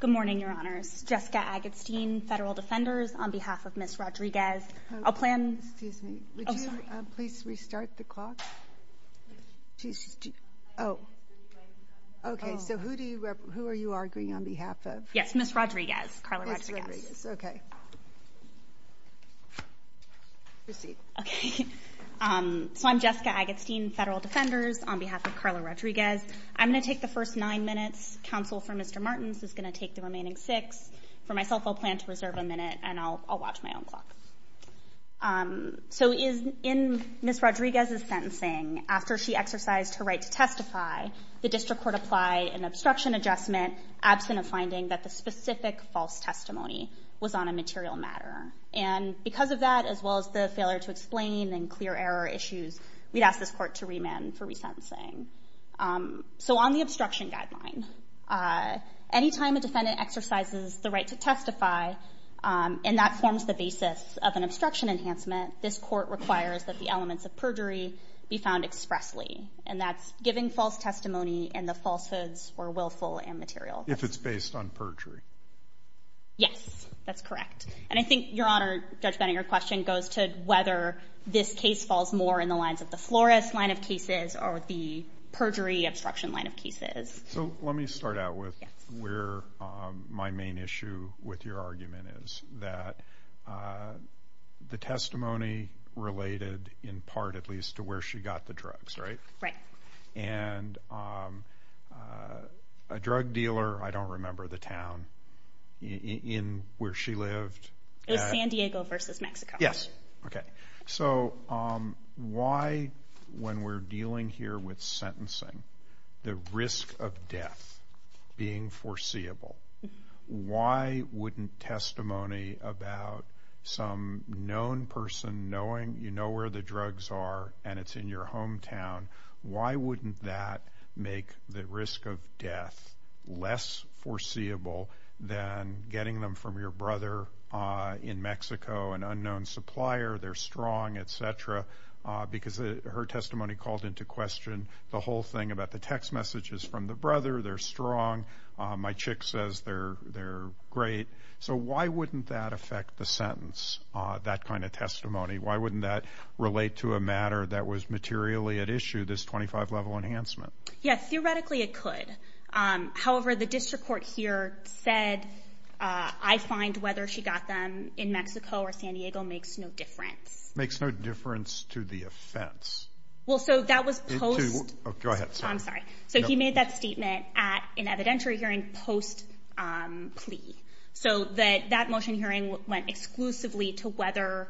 Good morning, Your Honors. Jessica Agatstein, Federal Defenders. On behalf of Ms. Rodriguez, I'll plan... Excuse me. Oh, sorry. Would you please restart the clock? She's... Oh. Okay, so who are you arguing on behalf of? Yes, Ms. Rodriguez. Karla Rodriguez. Ms. Rodriguez. Okay. Proceed. Okay. So I'm Jessica Agatstein, Federal Defenders, on behalf of Karla Rodriguez. I'm going to take the first nine minutes. Counsel for Mr. Martins is going to take the remaining six. For myself, I'll plan to reserve a minute, and I'll watch my own clock. So in Ms. Rodriguez's sentencing, after she exercised her right to testify, the district court applied an obstruction adjustment absent of finding that the specific false testimony was on a material matter. And because of that, as well as the failure to explain and clear error issues, we'd ask this court to remand for resentencing. So on the obstruction guideline, any time a defendant exercises the right to testify, and that forms the basis of an obstruction enhancement, this court requires that the elements of perjury be found expressly. And that's giving false testimony and the falsehoods were willful and material. If it's based on perjury. Yes, that's correct. And I think, Your Honor, Judge Benninger, your question goes to whether this case falls more in the lines of the Flores line of cases or the... Perjury obstruction line of cases. So let me start out with where my main issue with your argument is that the testimony related, in part at least, to where she got the drugs, right? Right. And a drug dealer, I don't remember the town in where she lived. It was San Diego versus Mexico. Yes. Okay. So why, when we're dealing here with sentencing, the risk of death being foreseeable? Why wouldn't testimony about some known person knowing, you know where the drugs are and it's in your hometown, why wouldn't that make the risk of death less foreseeable than getting them from your brother in Mexico, an unknown supplier? They're strong, et cetera. Because her testimony called into question the whole thing about the text messages from the brother. They're strong. My chick says they're great. So why wouldn't that affect the sentence, that kind of testimony? Why wouldn't that relate to a matter that was materially at issue, this 25 level enhancement? Yeah, theoretically it could. However, the district court here said, I find whether she got them in Mexico or San Diego makes no difference. Makes no difference to the offense. Well, so that was post... Go ahead. I'm sorry. So he made that statement at an evidentiary hearing post plea. So that motion hearing went exclusively to whether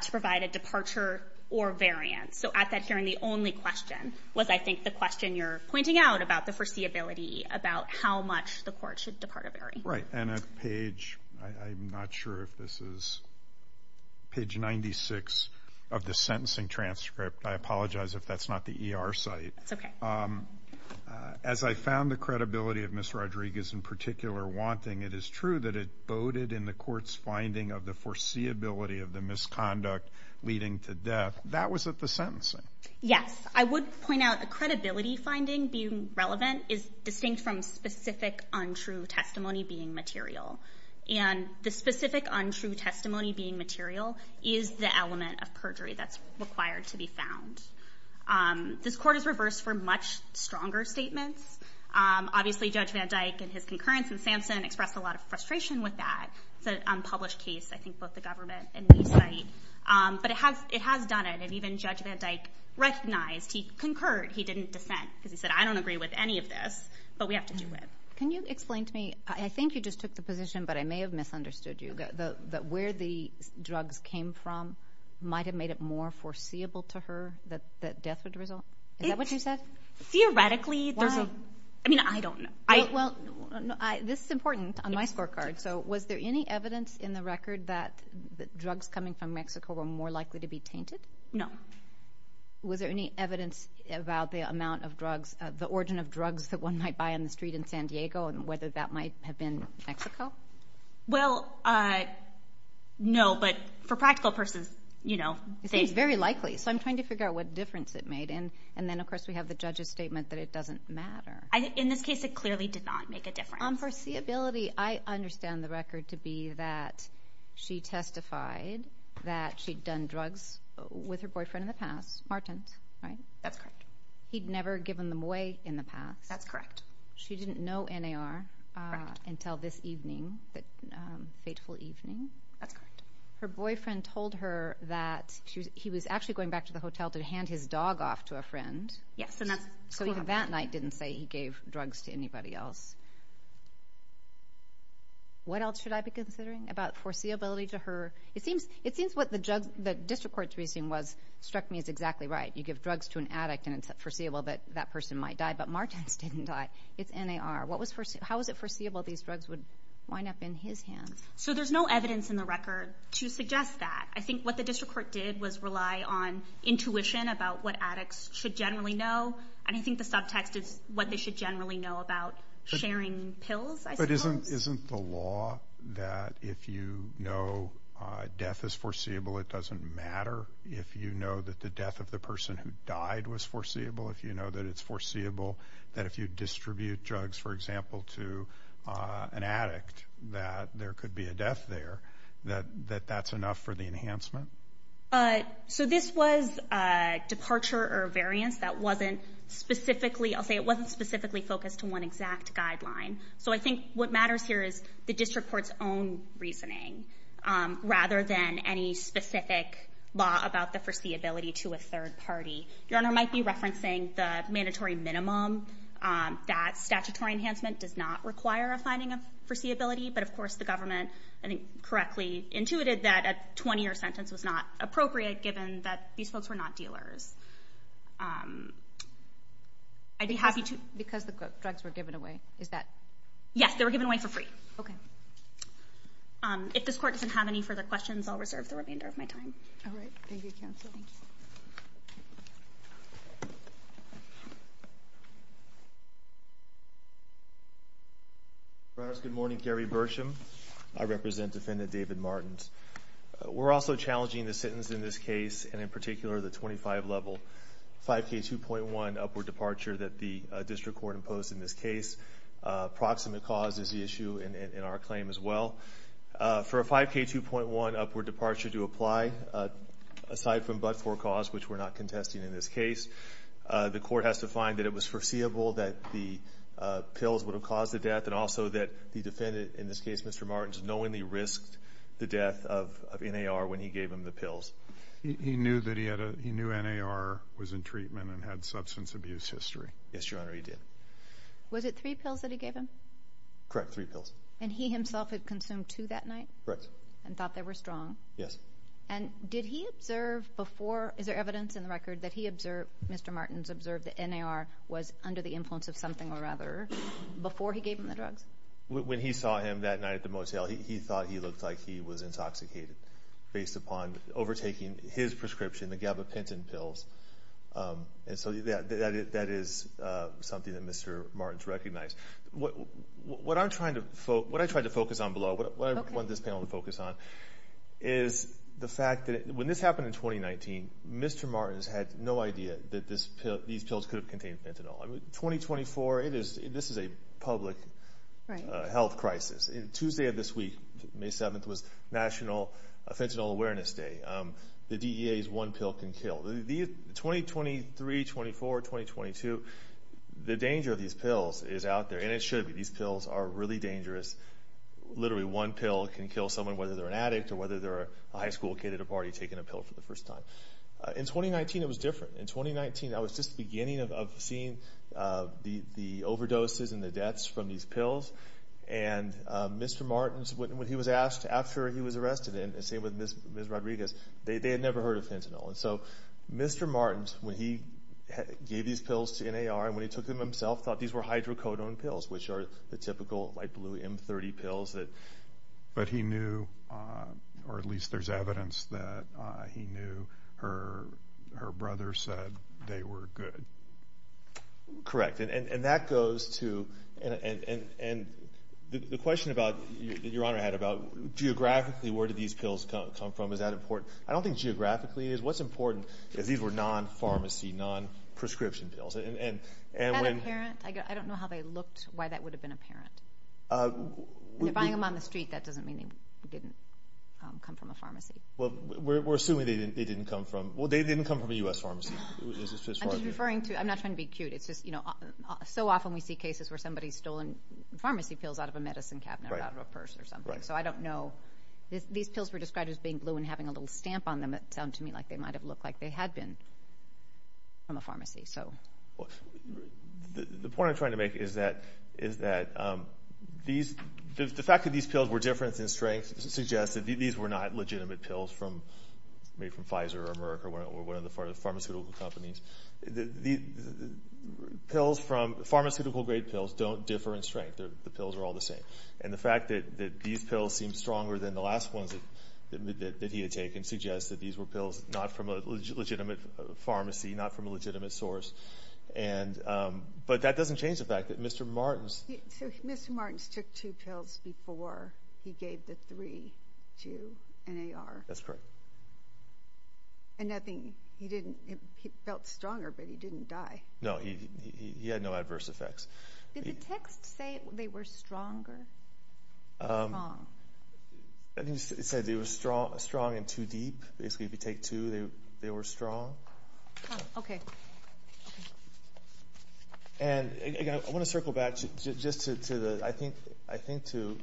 to provide a departure or variance. So at that hearing, the only question was, I think, the question you're pointing out about the foreseeability, about how much the court should depart a variance. Right. And at page, I'm not sure if this is page 96 of the sentencing transcript. I apologize if that's not the ER site. That's okay. As I found the credibility of Ms. Rodriguez in particular wanting, it is true that it boded in the court's finding of the foreseeability of the misconduct leading to death. That was at the sentencing. Yes. I would point out a credibility finding being relevant is distinct from specific untrue testimony being material. And the specific untrue testimony being material is the element of perjury that's required to be found. This court is reversed for much stronger statements. Obviously, Judge Van Dyke and his concurrence in Sampson expressed a lot of frustration with that. It's an unpublished case, I think, both the government and the site. But it has done it, and even Judge Van Dyke recognized, he concurred, he didn't dissent, because he said, I don't agree with any of this, but we have to do it. Can you explain to me, I think you just took the position, but I may have misunderstood you, that where the drugs came from might have made it more foreseeable to her that death would result? Is that what you said? Theoretically, there's a, I mean, I don't know. Well, this is important on my scorecard. So was there any evidence in the record that the drugs coming from Mexico were more likely to be tainted? No. Was there any evidence about the amount of drugs, the origin of drugs that one might buy on the street in San Diego, and whether that might have been Mexico? Well, no, but for practical purposes, you know, it's very likely. So I'm trying to figure out what difference it made. And then, of course, we have the judge's statement that it doesn't matter. In this case, it clearly did not make a difference. On foreseeability, I understand the record to be that she testified that she'd done drugs with her boyfriend in the past, Martin, right? That's correct. He'd never given them away in the past. That's correct. She didn't know NAR until this evening, that fateful evening. That's correct. Her boyfriend told her that he was actually going back to the hotel to hand his dog off to a friend. Yes, and that's what happened. Knight didn't say he gave drugs to anybody else. What else should I be considering about foreseeability to her? It seems what the district court's reasoning was struck me as exactly right. You give drugs to an addict, and it's foreseeable that that person might die, but Martin's didn't die. It's NAR. How was it foreseeable these drugs would wind up in his hands? So there's no evidence in the record to suggest that. I think what the district court did was rely on intuition about what addicts should generally know. I think the subtext is what they should generally know about sharing pills, I suppose. But isn't the law that if you know death is foreseeable, it doesn't matter? If you know that the death of the person who died was foreseeable, if you know that it's foreseeable that if you distribute drugs, for example, to an addict, that there could be a death there, that that's enough for the enhancement? So this was a departure or variance that wasn't specifically, I'll say it wasn't specifically focused to one exact guideline. So I think what matters here is the district court's own reasoning rather than any specific law about the foreseeability to a third party. Your Honor, I might be referencing the mandatory minimum that statutory enhancement does not require a finding of foreseeability. But of course, the government, I think, correctly intuited that a 20-year sentence was not appropriate given that these folks were not dealers. I'd be happy to- Because the drugs were given away, is that? Yes, they were given away for free. Okay. If this court doesn't have any further questions, I'll reserve the remainder of my time. All right, thank you, counsel. Thank you. Your Honor, good morning, Gary Bersham. I represent Defendant David Martins. We're also challenging the sentence in this case, and in particular the 25-level 5K2.1 upward departure that the district court imposed in this case. Proximate cause is the issue in our claim as well. For a 5K2.1 upward departure to apply, aside from but-for cause, which we're not contesting in this case, the court has to find that it was foreseeable that the pills would have caused the death and also that the defendant, in this case, Mr. Martins, knowingly risked the death of NAR when he gave him the pills. He knew that he had a, he knew NAR was in treatment and had substance abuse history. Yes, Your Honor, he did. Was it three pills that he gave him? Correct, three pills. And he himself had consumed two that night? Correct. And thought they were strong? Yes. And did he observe before, is there evidence in the record that he observed, Mr. Martins observed that NAR was under the influence of something or other before he gave him the drugs? When he saw him that night at the motel, he thought he looked like he was intoxicated based upon overtaking his prescription, the gabapentin pills. And so that is something that Mr. Martins recognized. What I'm trying to, what I tried to focus on below, what I want this panel to focus on is the fact that when this happened in 2019, Mr. Martins had no idea that these pills could have contained fentanyl. 2024, this is a public health crisis. Tuesday of this week, May 7th, was National Fentanyl Awareness Day. The DEA's one pill can kill. 2023, 24, 2022, the danger of these pills is out there, and it should be. These pills are really dangerous. Literally one pill can kill someone, whether they're an addict or whether they're a high school kid at a party taking a pill for the first time. In 2019, it was different. In 2019, that was just the beginning of seeing the overdoses and the deaths from these pills. And Mr. Martins, when he was asked after he was arrested, and the same with Miss Rodriguez, they had never heard of fentanyl. And so, Mr. Martins, when he gave these pills to NAR, and when he took them himself, thought these were hydrocodone pills, which are the typical light blue M30 pills. But he knew, or at least there's evidence that he knew, her brother said they were good. Correct. And that goes to, and the question about, your honor had about geographically, where did these pills come from? Is that important? I don't think geographically it is. What's important is these were non-pharmacy, non-prescription pills. And when- Are they apparent? I don't know how they looked, why that would have been apparent. If you're buying them on the street, that doesn't mean they didn't come from a pharmacy. Well, we're assuming they didn't come from, well, they didn't come from a U.S. pharmacy. I'm just referring to, I'm not trying to be cute. It's just, you know, so often we see cases where somebody's stolen pharmacy pills out of a medicine cabinet or out of a purse or something. So I don't know. These pills were described as being blue and having a little stamp on them. It sounded to me like they might have looked like they had been from a pharmacy. The point I'm trying to make is that the fact that these pills were different in strength suggests that these were not legitimate pills from Pfizer or Merck or one of the pharmaceutical companies. These pharmaceutical-grade pills don't differ in strength. The pills are all the same. And the fact that these pills seem stronger than the last ones that he had taken suggests that these were pills not from a legitimate pharmacy, not from a legitimate source. And, but that doesn't change the fact that Mr. Martens... So Mr. Martens took two pills before he gave the three to NAR? That's correct. And nothing, he didn't, he felt stronger, but he didn't die. No, he had no adverse effects. Did the text say they were stronger? It said they were strong and too deep. Basically, if you take two, they were strong. Okay. And I want to circle back just to the, I think, I think to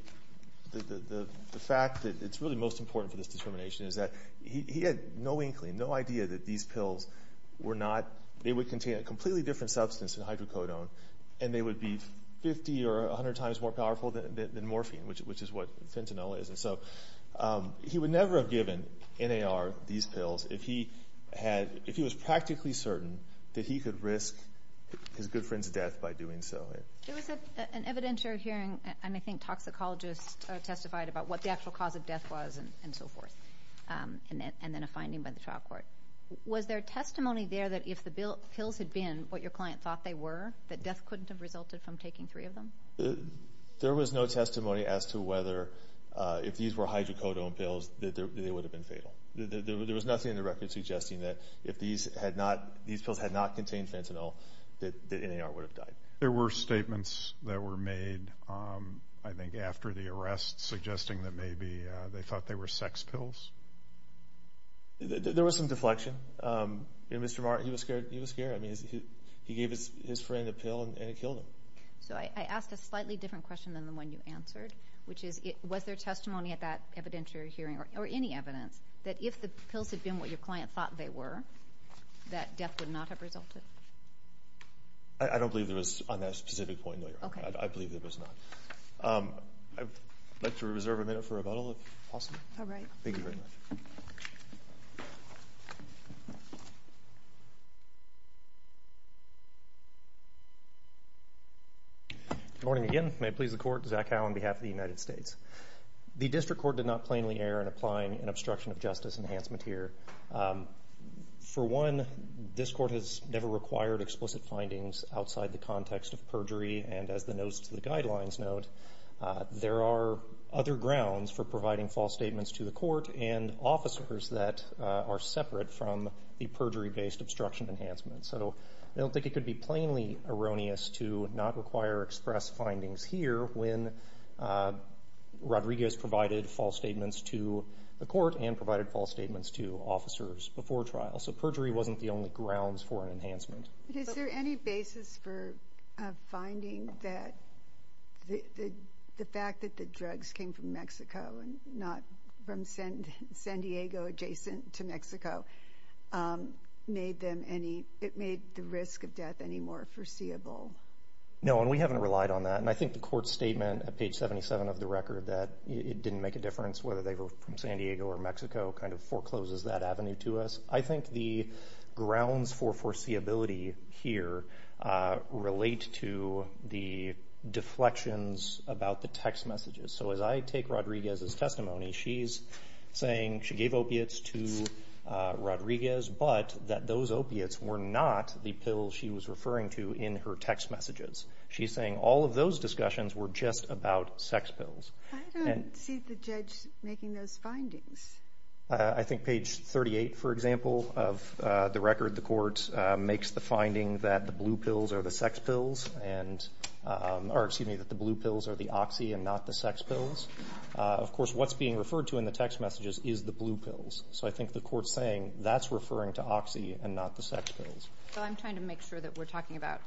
the fact that it's really most important for this determination is that he had no inkling, no idea that these pills were not, they would contain a completely different substance than hydrocodone. And they would be 50 or 100 times more powerful than morphine, which is what fentanyl is. And so he would never have given NAR these pills if he had, if he was practically certain that he could risk his good friend's death by doing so. There was an evidentiary hearing, and I think toxicologists testified about what the actual cause of death was and so forth. And then a finding by the trial court. Was there testimony there that if the pills had been what your client thought they were, that death couldn't have resulted from taking three of them? There was no testimony as to whether, if these were hydrocodone pills, that they would have been fatal. There was nothing in the record suggesting that if these had not, these pills had not contained fentanyl, that NAR would have died. There were statements that were made, I think, after the arrest suggesting that maybe they thought they were sex pills. There was some deflection. You know, Mr. Martin, he was scared, he was scared. I mean, he gave his friend a pill, and it killed him. So I asked a slightly different question than the one you answered, which is, was there testimony at that evidentiary hearing, or any evidence, that if the pills had been what your client thought they were, that death would not have resulted? I don't believe there was on that specific point, no, Your Honor. I believe there was not. I'd like to reserve a minute for rebuttal, if possible. All right. Thank you very much. Good morning again. May it please the Court, Zach Howe on behalf of the United States. The District Court did not plainly err in applying an obstruction of justice enhancement here. For one, this Court has never required explicit findings outside the context of perjury, and as the notes to the guidelines note, there are other grounds for providing false statements to the Court and officers that are separate from the perjury-based obstruction enhancement. So I don't think it could be plainly erroneous to not require express findings here when Rodriguez provided false statements to the Court and provided false statements to officers before trial. So perjury wasn't the only grounds for an enhancement. Is there any basis for finding that the fact that the drugs came from Mexico and not from San Diego, adjacent to Mexico, made the risk of death any more foreseeable? No, and we haven't relied on that. And I think the Court's statement at page 77 of the record that it didn't make a difference whether they were from San Diego or Mexico kind of forecloses that avenue to us. I think the grounds for foreseeability here relate to the deflections about the text messages. So as I take Rodriguez's testimony, she's saying she gave opiates to Rodriguez, but that those opiates were not the pills she was referring to in her text messages. She's saying all of those discussions were just about sex pills. I think page 38, for example, of the record, the Court makes the finding that the blue pills are the sex pills and that the blue pills are the oxy and not the sex pills. Of course, what's being referred to in the text messages is the blue pills. So I think the Court's saying that's referring to oxy and not the sex pills. So I'm trying to make sure that we're talking about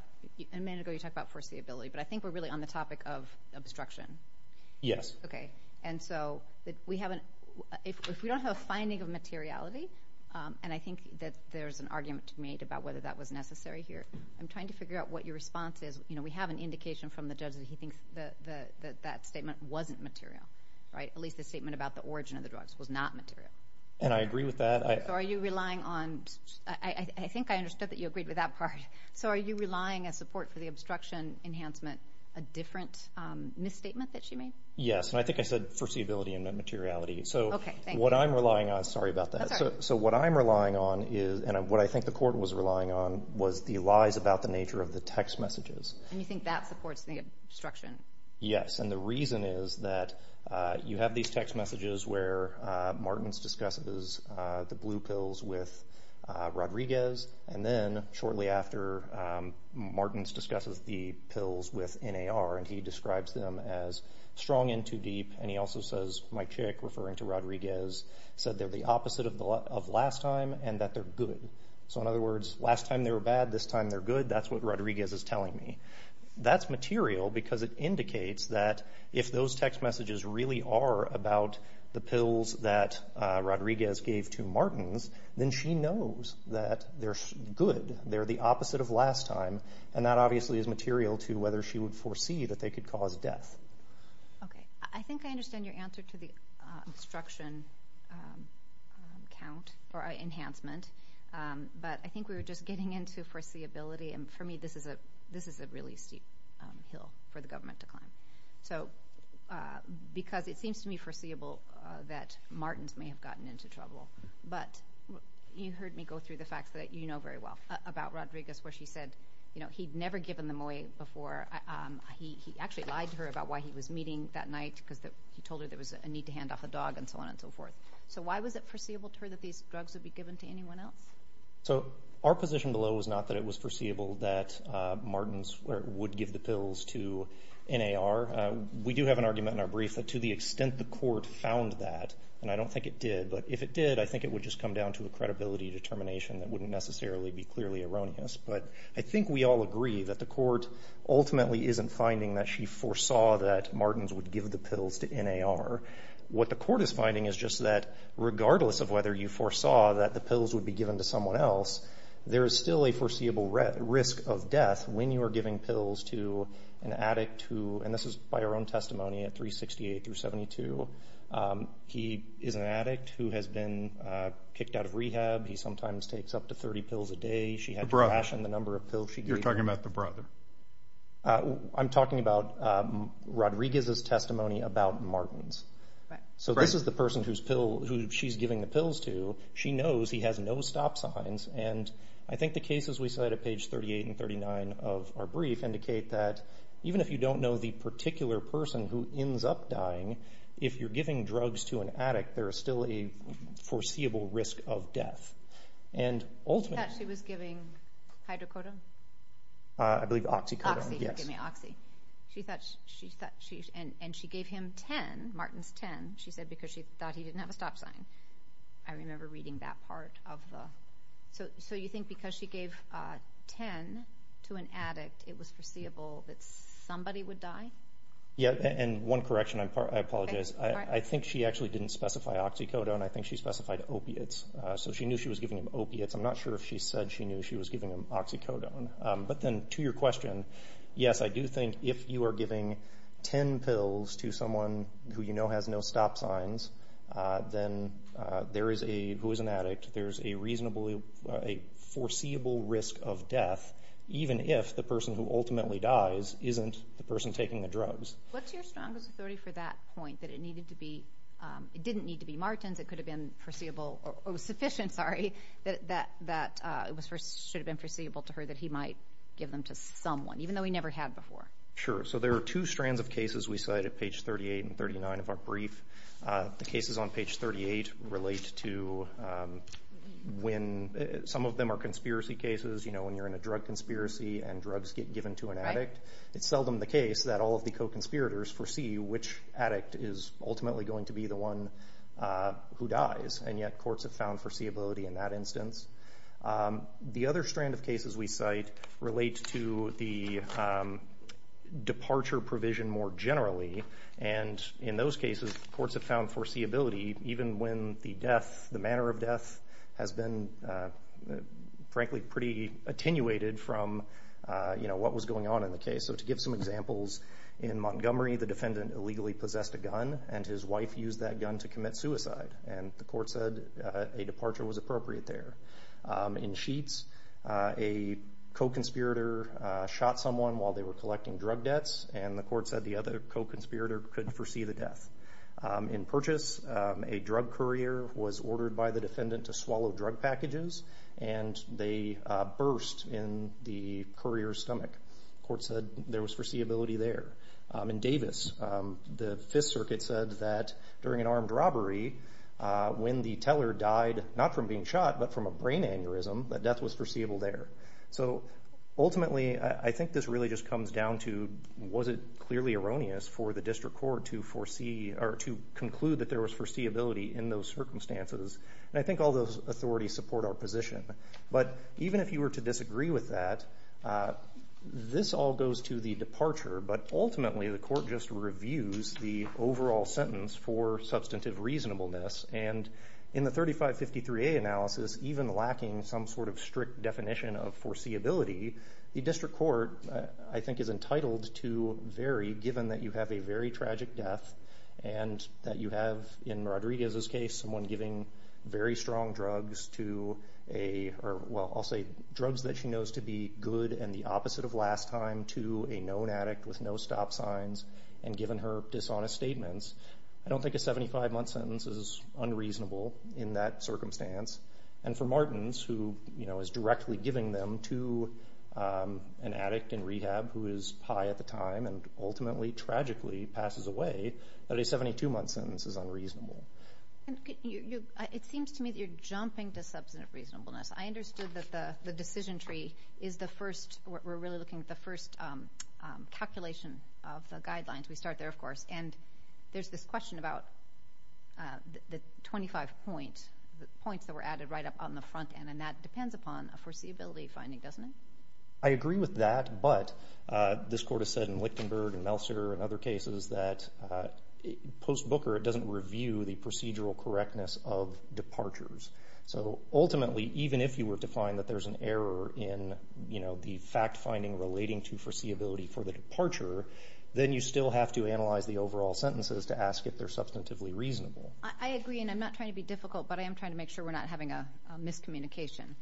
foreseeability, but I think we're really on the topic of obstruction. Yes. Okay, and so if we don't have a finding of materiality, and I think that there's an argument to be made about whether that was necessary here, I'm trying to figure out what your response is. We have an indication from the judge that he thinks that that statement wasn't material, right? At least the statement about the origin of the drugs was not material. And I agree with that. So are you relying on—I think I understood that you agreed with that part. So are you relying on support for the obstruction enhancement, a different misstatement that she made? Yes, and I think I said foreseeability and not materiality. Okay, thank you. So what I'm relying on—sorry about that. That's all right. So what I'm relying on is—and what I think the Court was relying on was the lies about the nature of the text messages. And you think that supports the obstruction? Yes, and the reason is that you have these text messages where Martins discusses the blue pills with Rodriguez, and then shortly after, Martins discusses the pills with NAR, and he describes them as strong and too deep. And he also says, my chick, referring to Rodriguez, said they're the opposite of last time and that they're good. So in other words, last time they were bad, this time they're good. That's what Rodriguez is telling me. That's material because it indicates that if those text messages really are about the pills that Rodriguez gave to Martins, then she knows that they're good, they're the opposite of last time, and that obviously is material to whether she would foresee that they could cause death. Okay, I think I understand your answer to the obstruction count or enhancement, but I think we were just getting into foreseeability, and for me this is a really steep hill for the government to climb. Because it seems to me foreseeable that Martins may have gotten into trouble, but you heard me go through the facts that you know very well about Rodriguez where she said he'd never given them away before. He actually lied to her about why he was meeting that night because he told her there was a need to hand off a dog and so on and so forth. So why was it foreseeable to her that these drugs would be given to anyone else? So our position below is not that it was foreseeable that Martins would give the pills to NAR. We do have an argument in our brief that to the extent the court found that, and I don't think it did, but if it did, I think it would just come down to a credibility determination that wouldn't necessarily be clearly erroneous. But I think we all agree that the court ultimately isn't finding that she foresaw that Martins would give the pills to NAR. What the court is finding is just that regardless of whether you foresaw that the pills would be given to someone else, there is still a foreseeable risk of death when you are giving pills to an addict who, and this is by our own testimony at 368 through 72, he is an addict who has been kicked out of rehab. He sometimes takes up to 30 pills a day. The brother. She had to ration the number of pills she gave him. You're talking about the brother. I'm talking about Rodriguez's testimony about Martins. So this is the person who she's giving the pills to. She knows he has no stop signs, and I think the cases we cite at page 38 and 39 of our brief indicate that even if you don't know the particular person who ends up dying, if you're giving drugs to an addict, there is still a foreseeable risk of death. Do you think she was giving hydrocodone? I believe oxycodone. Oxy, forgive me, oxy. And she gave him 10, Martins 10, she said, because she thought he didn't have a stop sign. I remember reading that part of the. So you think because she gave 10 to an addict, it was foreseeable that somebody would die? Yeah, and one correction, I apologize. I think she actually didn't specify oxycodone. I think she specified opiates. So she knew she was giving him opiates. I'm not sure if she said she knew she was giving him oxycodone. But then to your question, yes, I do think if you are giving 10 pills to someone who you know has no stop signs, then there is a, who is an addict, there is a reasonable, a foreseeable risk of death, even if the person who ultimately dies isn't the person taking the drugs. What's your strongest authority for that point, that it needed to be, it didn't need to be Martins, it could have been foreseeable, or sufficient, sorry, that it should have been foreseeable to her that he might give them to someone, even though he never had before? Sure, so there are two strands of cases we cite at page 38 and 39 of our brief. The cases on page 38 relate to when, some of them are conspiracy cases, you know, when you're in a drug conspiracy and drugs get given to an addict. It's seldom the case that all of the co-conspirators foresee which addict is ultimately going to be the one who dies, and yet courts have found foreseeability in that instance. The other strand of cases we cite relate to the departure provision more generally, and in those cases, courts have found foreseeability even when the death, the manner of death, has been frankly pretty attenuated from what was going on in the case. So to give some examples, in Montgomery, the defendant illegally possessed a gun, and his wife used that gun to commit suicide, and the court said a departure was appropriate there. In Sheetz, a co-conspirator shot someone while they were collecting drug debts, and the court said the other co-conspirator could foresee the death. In Purchase, a drug courier was ordered by the defendant to swallow drug packages, and they burst in the courier's stomach. The court said there was foreseeability there. In Davis, the Fifth Circuit said that during an armed robbery, when the teller died not from being shot but from a brain aneurysm, that death was foreseeable there. So ultimately, I think this really just comes down to was it clearly erroneous for the district court to conclude that there was foreseeability in those circumstances, and I think all those authorities support our position. But even if you were to disagree with that, this all goes to the departure, but ultimately the court just reviews the overall sentence for substantive reasonableness, and in the 3553A analysis, even lacking some sort of strict definition of foreseeability, the district court, I think, is entitled to vary, given that you have a very tragic death and that you have, in Rodriguez's case, someone giving very strong drugs to a, well, I'll say drugs that she knows to be good and the opposite of last time to a known addict with no stop signs and given her dishonest statements. I don't think a 75-month sentence is unreasonable in that circumstance, and for Martins, who is directly giving them to an addict in rehab who is high at the time and ultimately, tragically, passes away, that a 72-month sentence is unreasonable. It seems to me that you're jumping to substantive reasonableness. I understood that the decision tree is the first, we're really looking at the first calculation of the guidelines. We start there, of course, and there's this question about the 25 points, the points that were added right up on the front end, and that depends upon a foreseeability finding, doesn't it? I agree with that, but this court has said in Lichtenberg and Meltzer and other cases that post-Booker it doesn't review the procedural correctness of departures. So ultimately, even if you were to find that there's an error in the fact-finding relating to foreseeability for the departure, then you still have to analyze the overall sentences to ask if they're substantively reasonable. I agree, and I'm not trying to be difficult, but I am trying to make sure we're not having a miscommunication.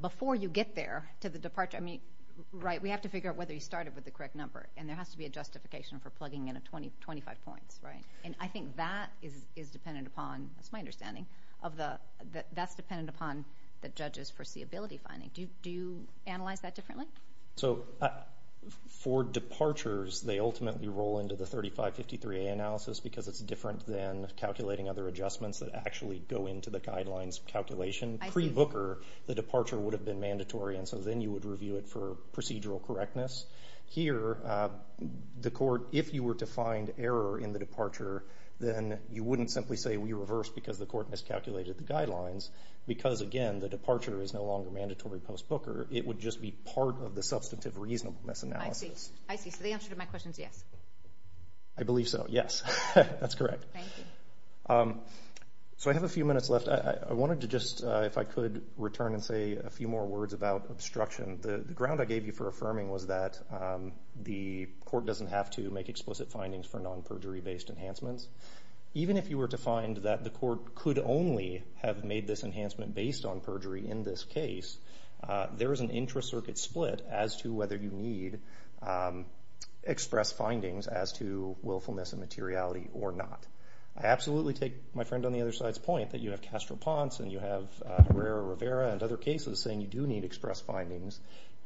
Before you get there to the departure, we have to figure out whether you started with the correct number, and there has to be a justification for plugging in 25 points. And I think that is dependent upon, that's my understanding, that's dependent upon the judge's foreseeability finding. Do you analyze that differently? So for departures, they ultimately roll into the 3553A analysis because it's different than calculating other adjustments that actually go into the guidelines calculation. Pre-Booker, the departure would have been mandatory, and so then you would review it for procedural correctness. Here, the court, if you were to find error in the departure, then you wouldn't simply say we reversed because the court miscalculated the guidelines because, again, the departure is no longer mandatory post-Booker. It would just be part of the substantive reasonableness analysis. I see. So the answer to my question is yes. I believe so, yes. That's correct. Thank you. So I have a few minutes left. I wanted to just, if I could, return and say a few more words about obstruction. The ground I gave you for affirming was that the court doesn't have to make explicit findings for non-perjury-based enhancements. Even if you were to find that the court could only have made this enhancement based on perjury in this case, there is an intra-circuit split as to whether you need express findings as to willfulness and materiality or not. I absolutely take my friend on the other side's point that you have Castro-Ponce and you have Herrera-Rivera and other cases saying you do need express findings,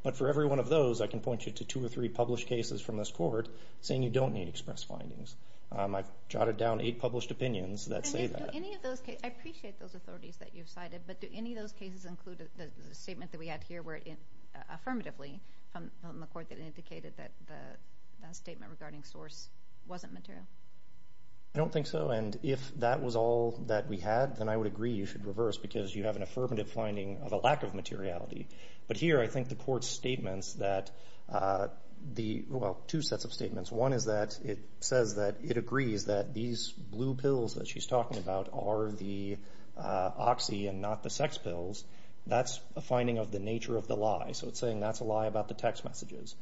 but for every one of those, I can point you to two or three published cases from this court saying you don't need express findings. I've jotted down eight published opinions that say that. I appreciate those authorities that you've cited, but do any of those cases include the statement that we had here affirmatively from the court that indicated that the statement regarding source wasn't material? I don't think so, and if that was all that we had, then I would agree you should reverse because you have an affirmative finding of a lack of materiality. But here I think the court's statements that... Well, two sets of statements. One is that it says that it agrees that these blue pills that she's talking about are the oxy and not the sex pills. That's a finding of the nature of the lie, so it's saying that's a lie about the text messages.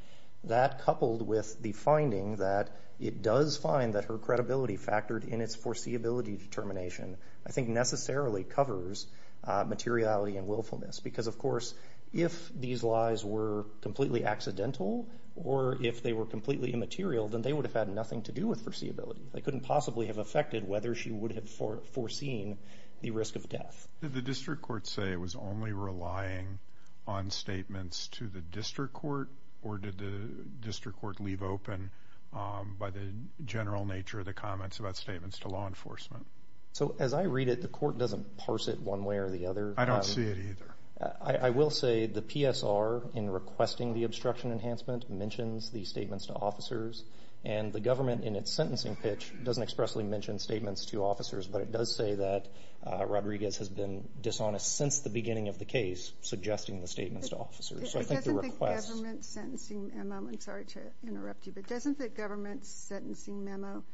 That, coupled with the finding that it does find that her credibility factored in its foreseeability determination, I think necessarily covers materiality and willfulness because, of course, if these lies were completely accidental or if they were completely immaterial, then they would have had nothing to do with foreseeability. They couldn't possibly have affected whether she would have foreseen the risk of death. Did the district court say it was only relying on statements to the district court, or did the district court leave open, by the general nature of the comments, about statements to law enforcement? As I read it, the court doesn't parse it one way or the other. I don't see it either. I will say the PSR, in requesting the obstruction enhancement, mentions these statements to officers, and the government, in its sentencing pitch, doesn't expressly mention statements to officers, but it does say that Rodriguez has been dishonest since the beginning of the case, suggesting the statements to officers. Doesn't the government's sentencing memo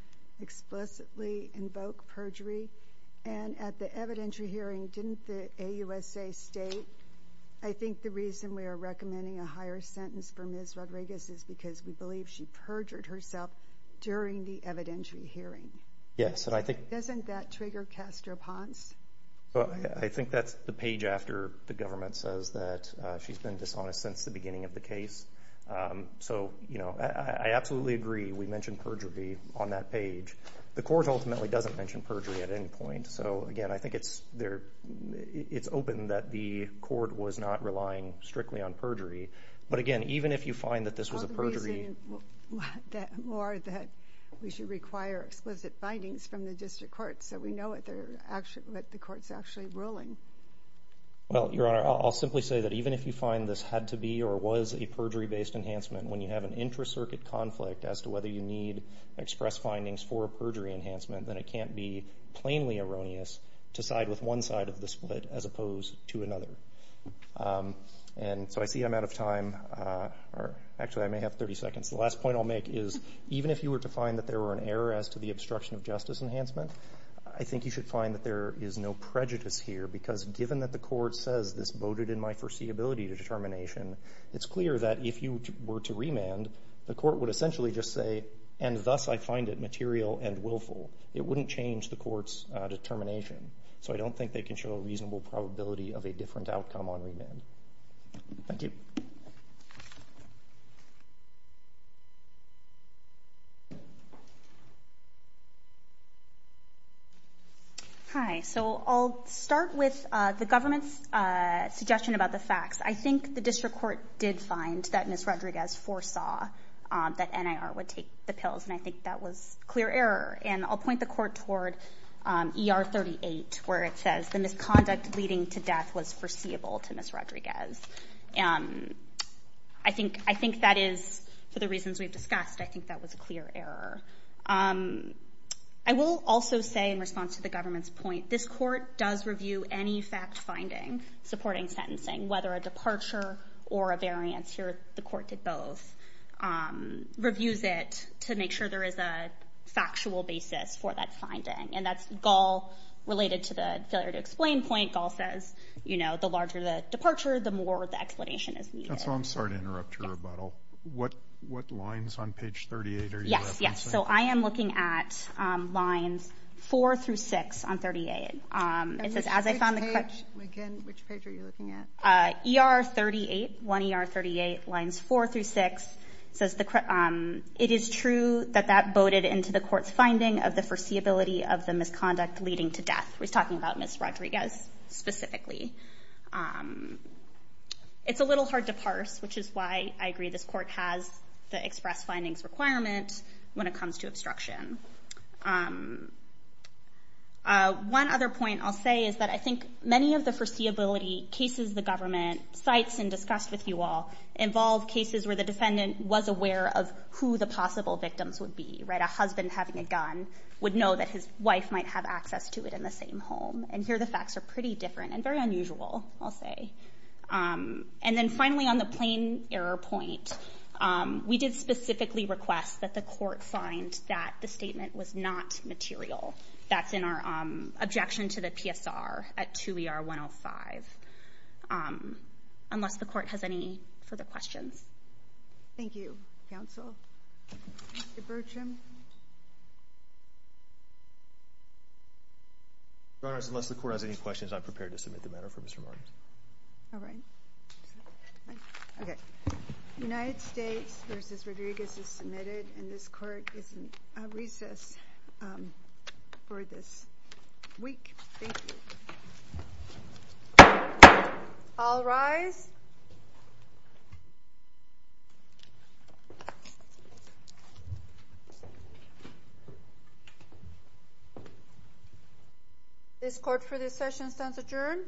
explicitly invoke perjury? At the evidentiary hearing, didn't the AUSA state, I think the reason we are recommending a higher sentence for Ms. Rodriguez is because we believe she perjured herself during the evidentiary hearing. Yes. Doesn't that trigger Caster Ponce? I think that's the page after the government says that she's been dishonest since the beginning of the case. So I absolutely agree we mentioned perjury on that page. The court ultimately doesn't mention perjury at any point. So, again, I think it's open that the court was not relying strictly on perjury. But, again, even if you find that this was a perjury— I'll be using more that we should require explicit findings from the district court so we know what the court's actually ruling. Well, Your Honor, I'll simply say that even if you find this had to be or was a perjury-based enhancement, when you have an intra-circuit conflict as to whether you need express findings for a perjury enhancement, then it can't be plainly erroneous to side with one side of the split as opposed to another. And so I see I'm out of time. Actually, I may have 30 seconds. The last point I'll make is even if you were to find that there were an error as to the obstruction of justice enhancement, I think you should find that there is no prejudice here because given that the court says this voted in my foreseeability determination, it's clear that if you were to remand, the court would essentially just say, and thus I find it material and willful. It wouldn't change the court's determination. So I don't think they can show a reasonable probability of a different outcome on remand. Thank you. Hi. So I'll start with the government's suggestion about the facts. I think the district court did find that Ms. Rodriguez foresaw that NIR would take the pills, and I think that was clear error. And I'll point the court toward ER 38 where it says the misconduct leading to death was foreseeable to Ms. Rodriguez. I think that is, for the reasons we've discussed, I think that was a clear error. I will also say in response to the government's point, this court does review any fact-finding supporting sentencing, whether a departure or a variance. The court did both. Reviews it to make sure there is a factual basis for that finding. And that's GAL related to the failure to explain point. GAL says the larger the departure, the more the explanation is needed. I'm sorry to interrupt your rebuttal. What lines on page 38 are you referencing? Yes. So I am looking at lines 4 through 6 on 38. Which page are you looking at? ER 38, 1 ER 38, lines 4 through 6. It says it is true that that boated into the court's finding of the foreseeability of the misconduct leading to death. We're talking about Ms. Rodriguez specifically. It's a little hard to parse, which is why I agree this court has the express findings requirement when it comes to obstruction. One other point I'll say is that I think many of the foreseeability cases the government cites and discussed with you all involve cases where the defendant was aware of who the possible victims would be. A husband having a gun would know that his wife might have access to it in the same home. And here the facts are pretty different and very unusual, I'll say. And then finally on the plain error point, we did specifically request that the court find that the statement was not material. That's in our objection to the PSR at 2 ER 105. Unless the court has any further questions. Thank you, counsel. Mr. Burcham? Your Honors, unless the court has any questions, I'm prepared to submit the matter for Mr. Martins. All right. Okay. United States v. Rodriguez is submitted. And this court is in recess for this week. Thank you. All rise. This court for this session stands adjourned.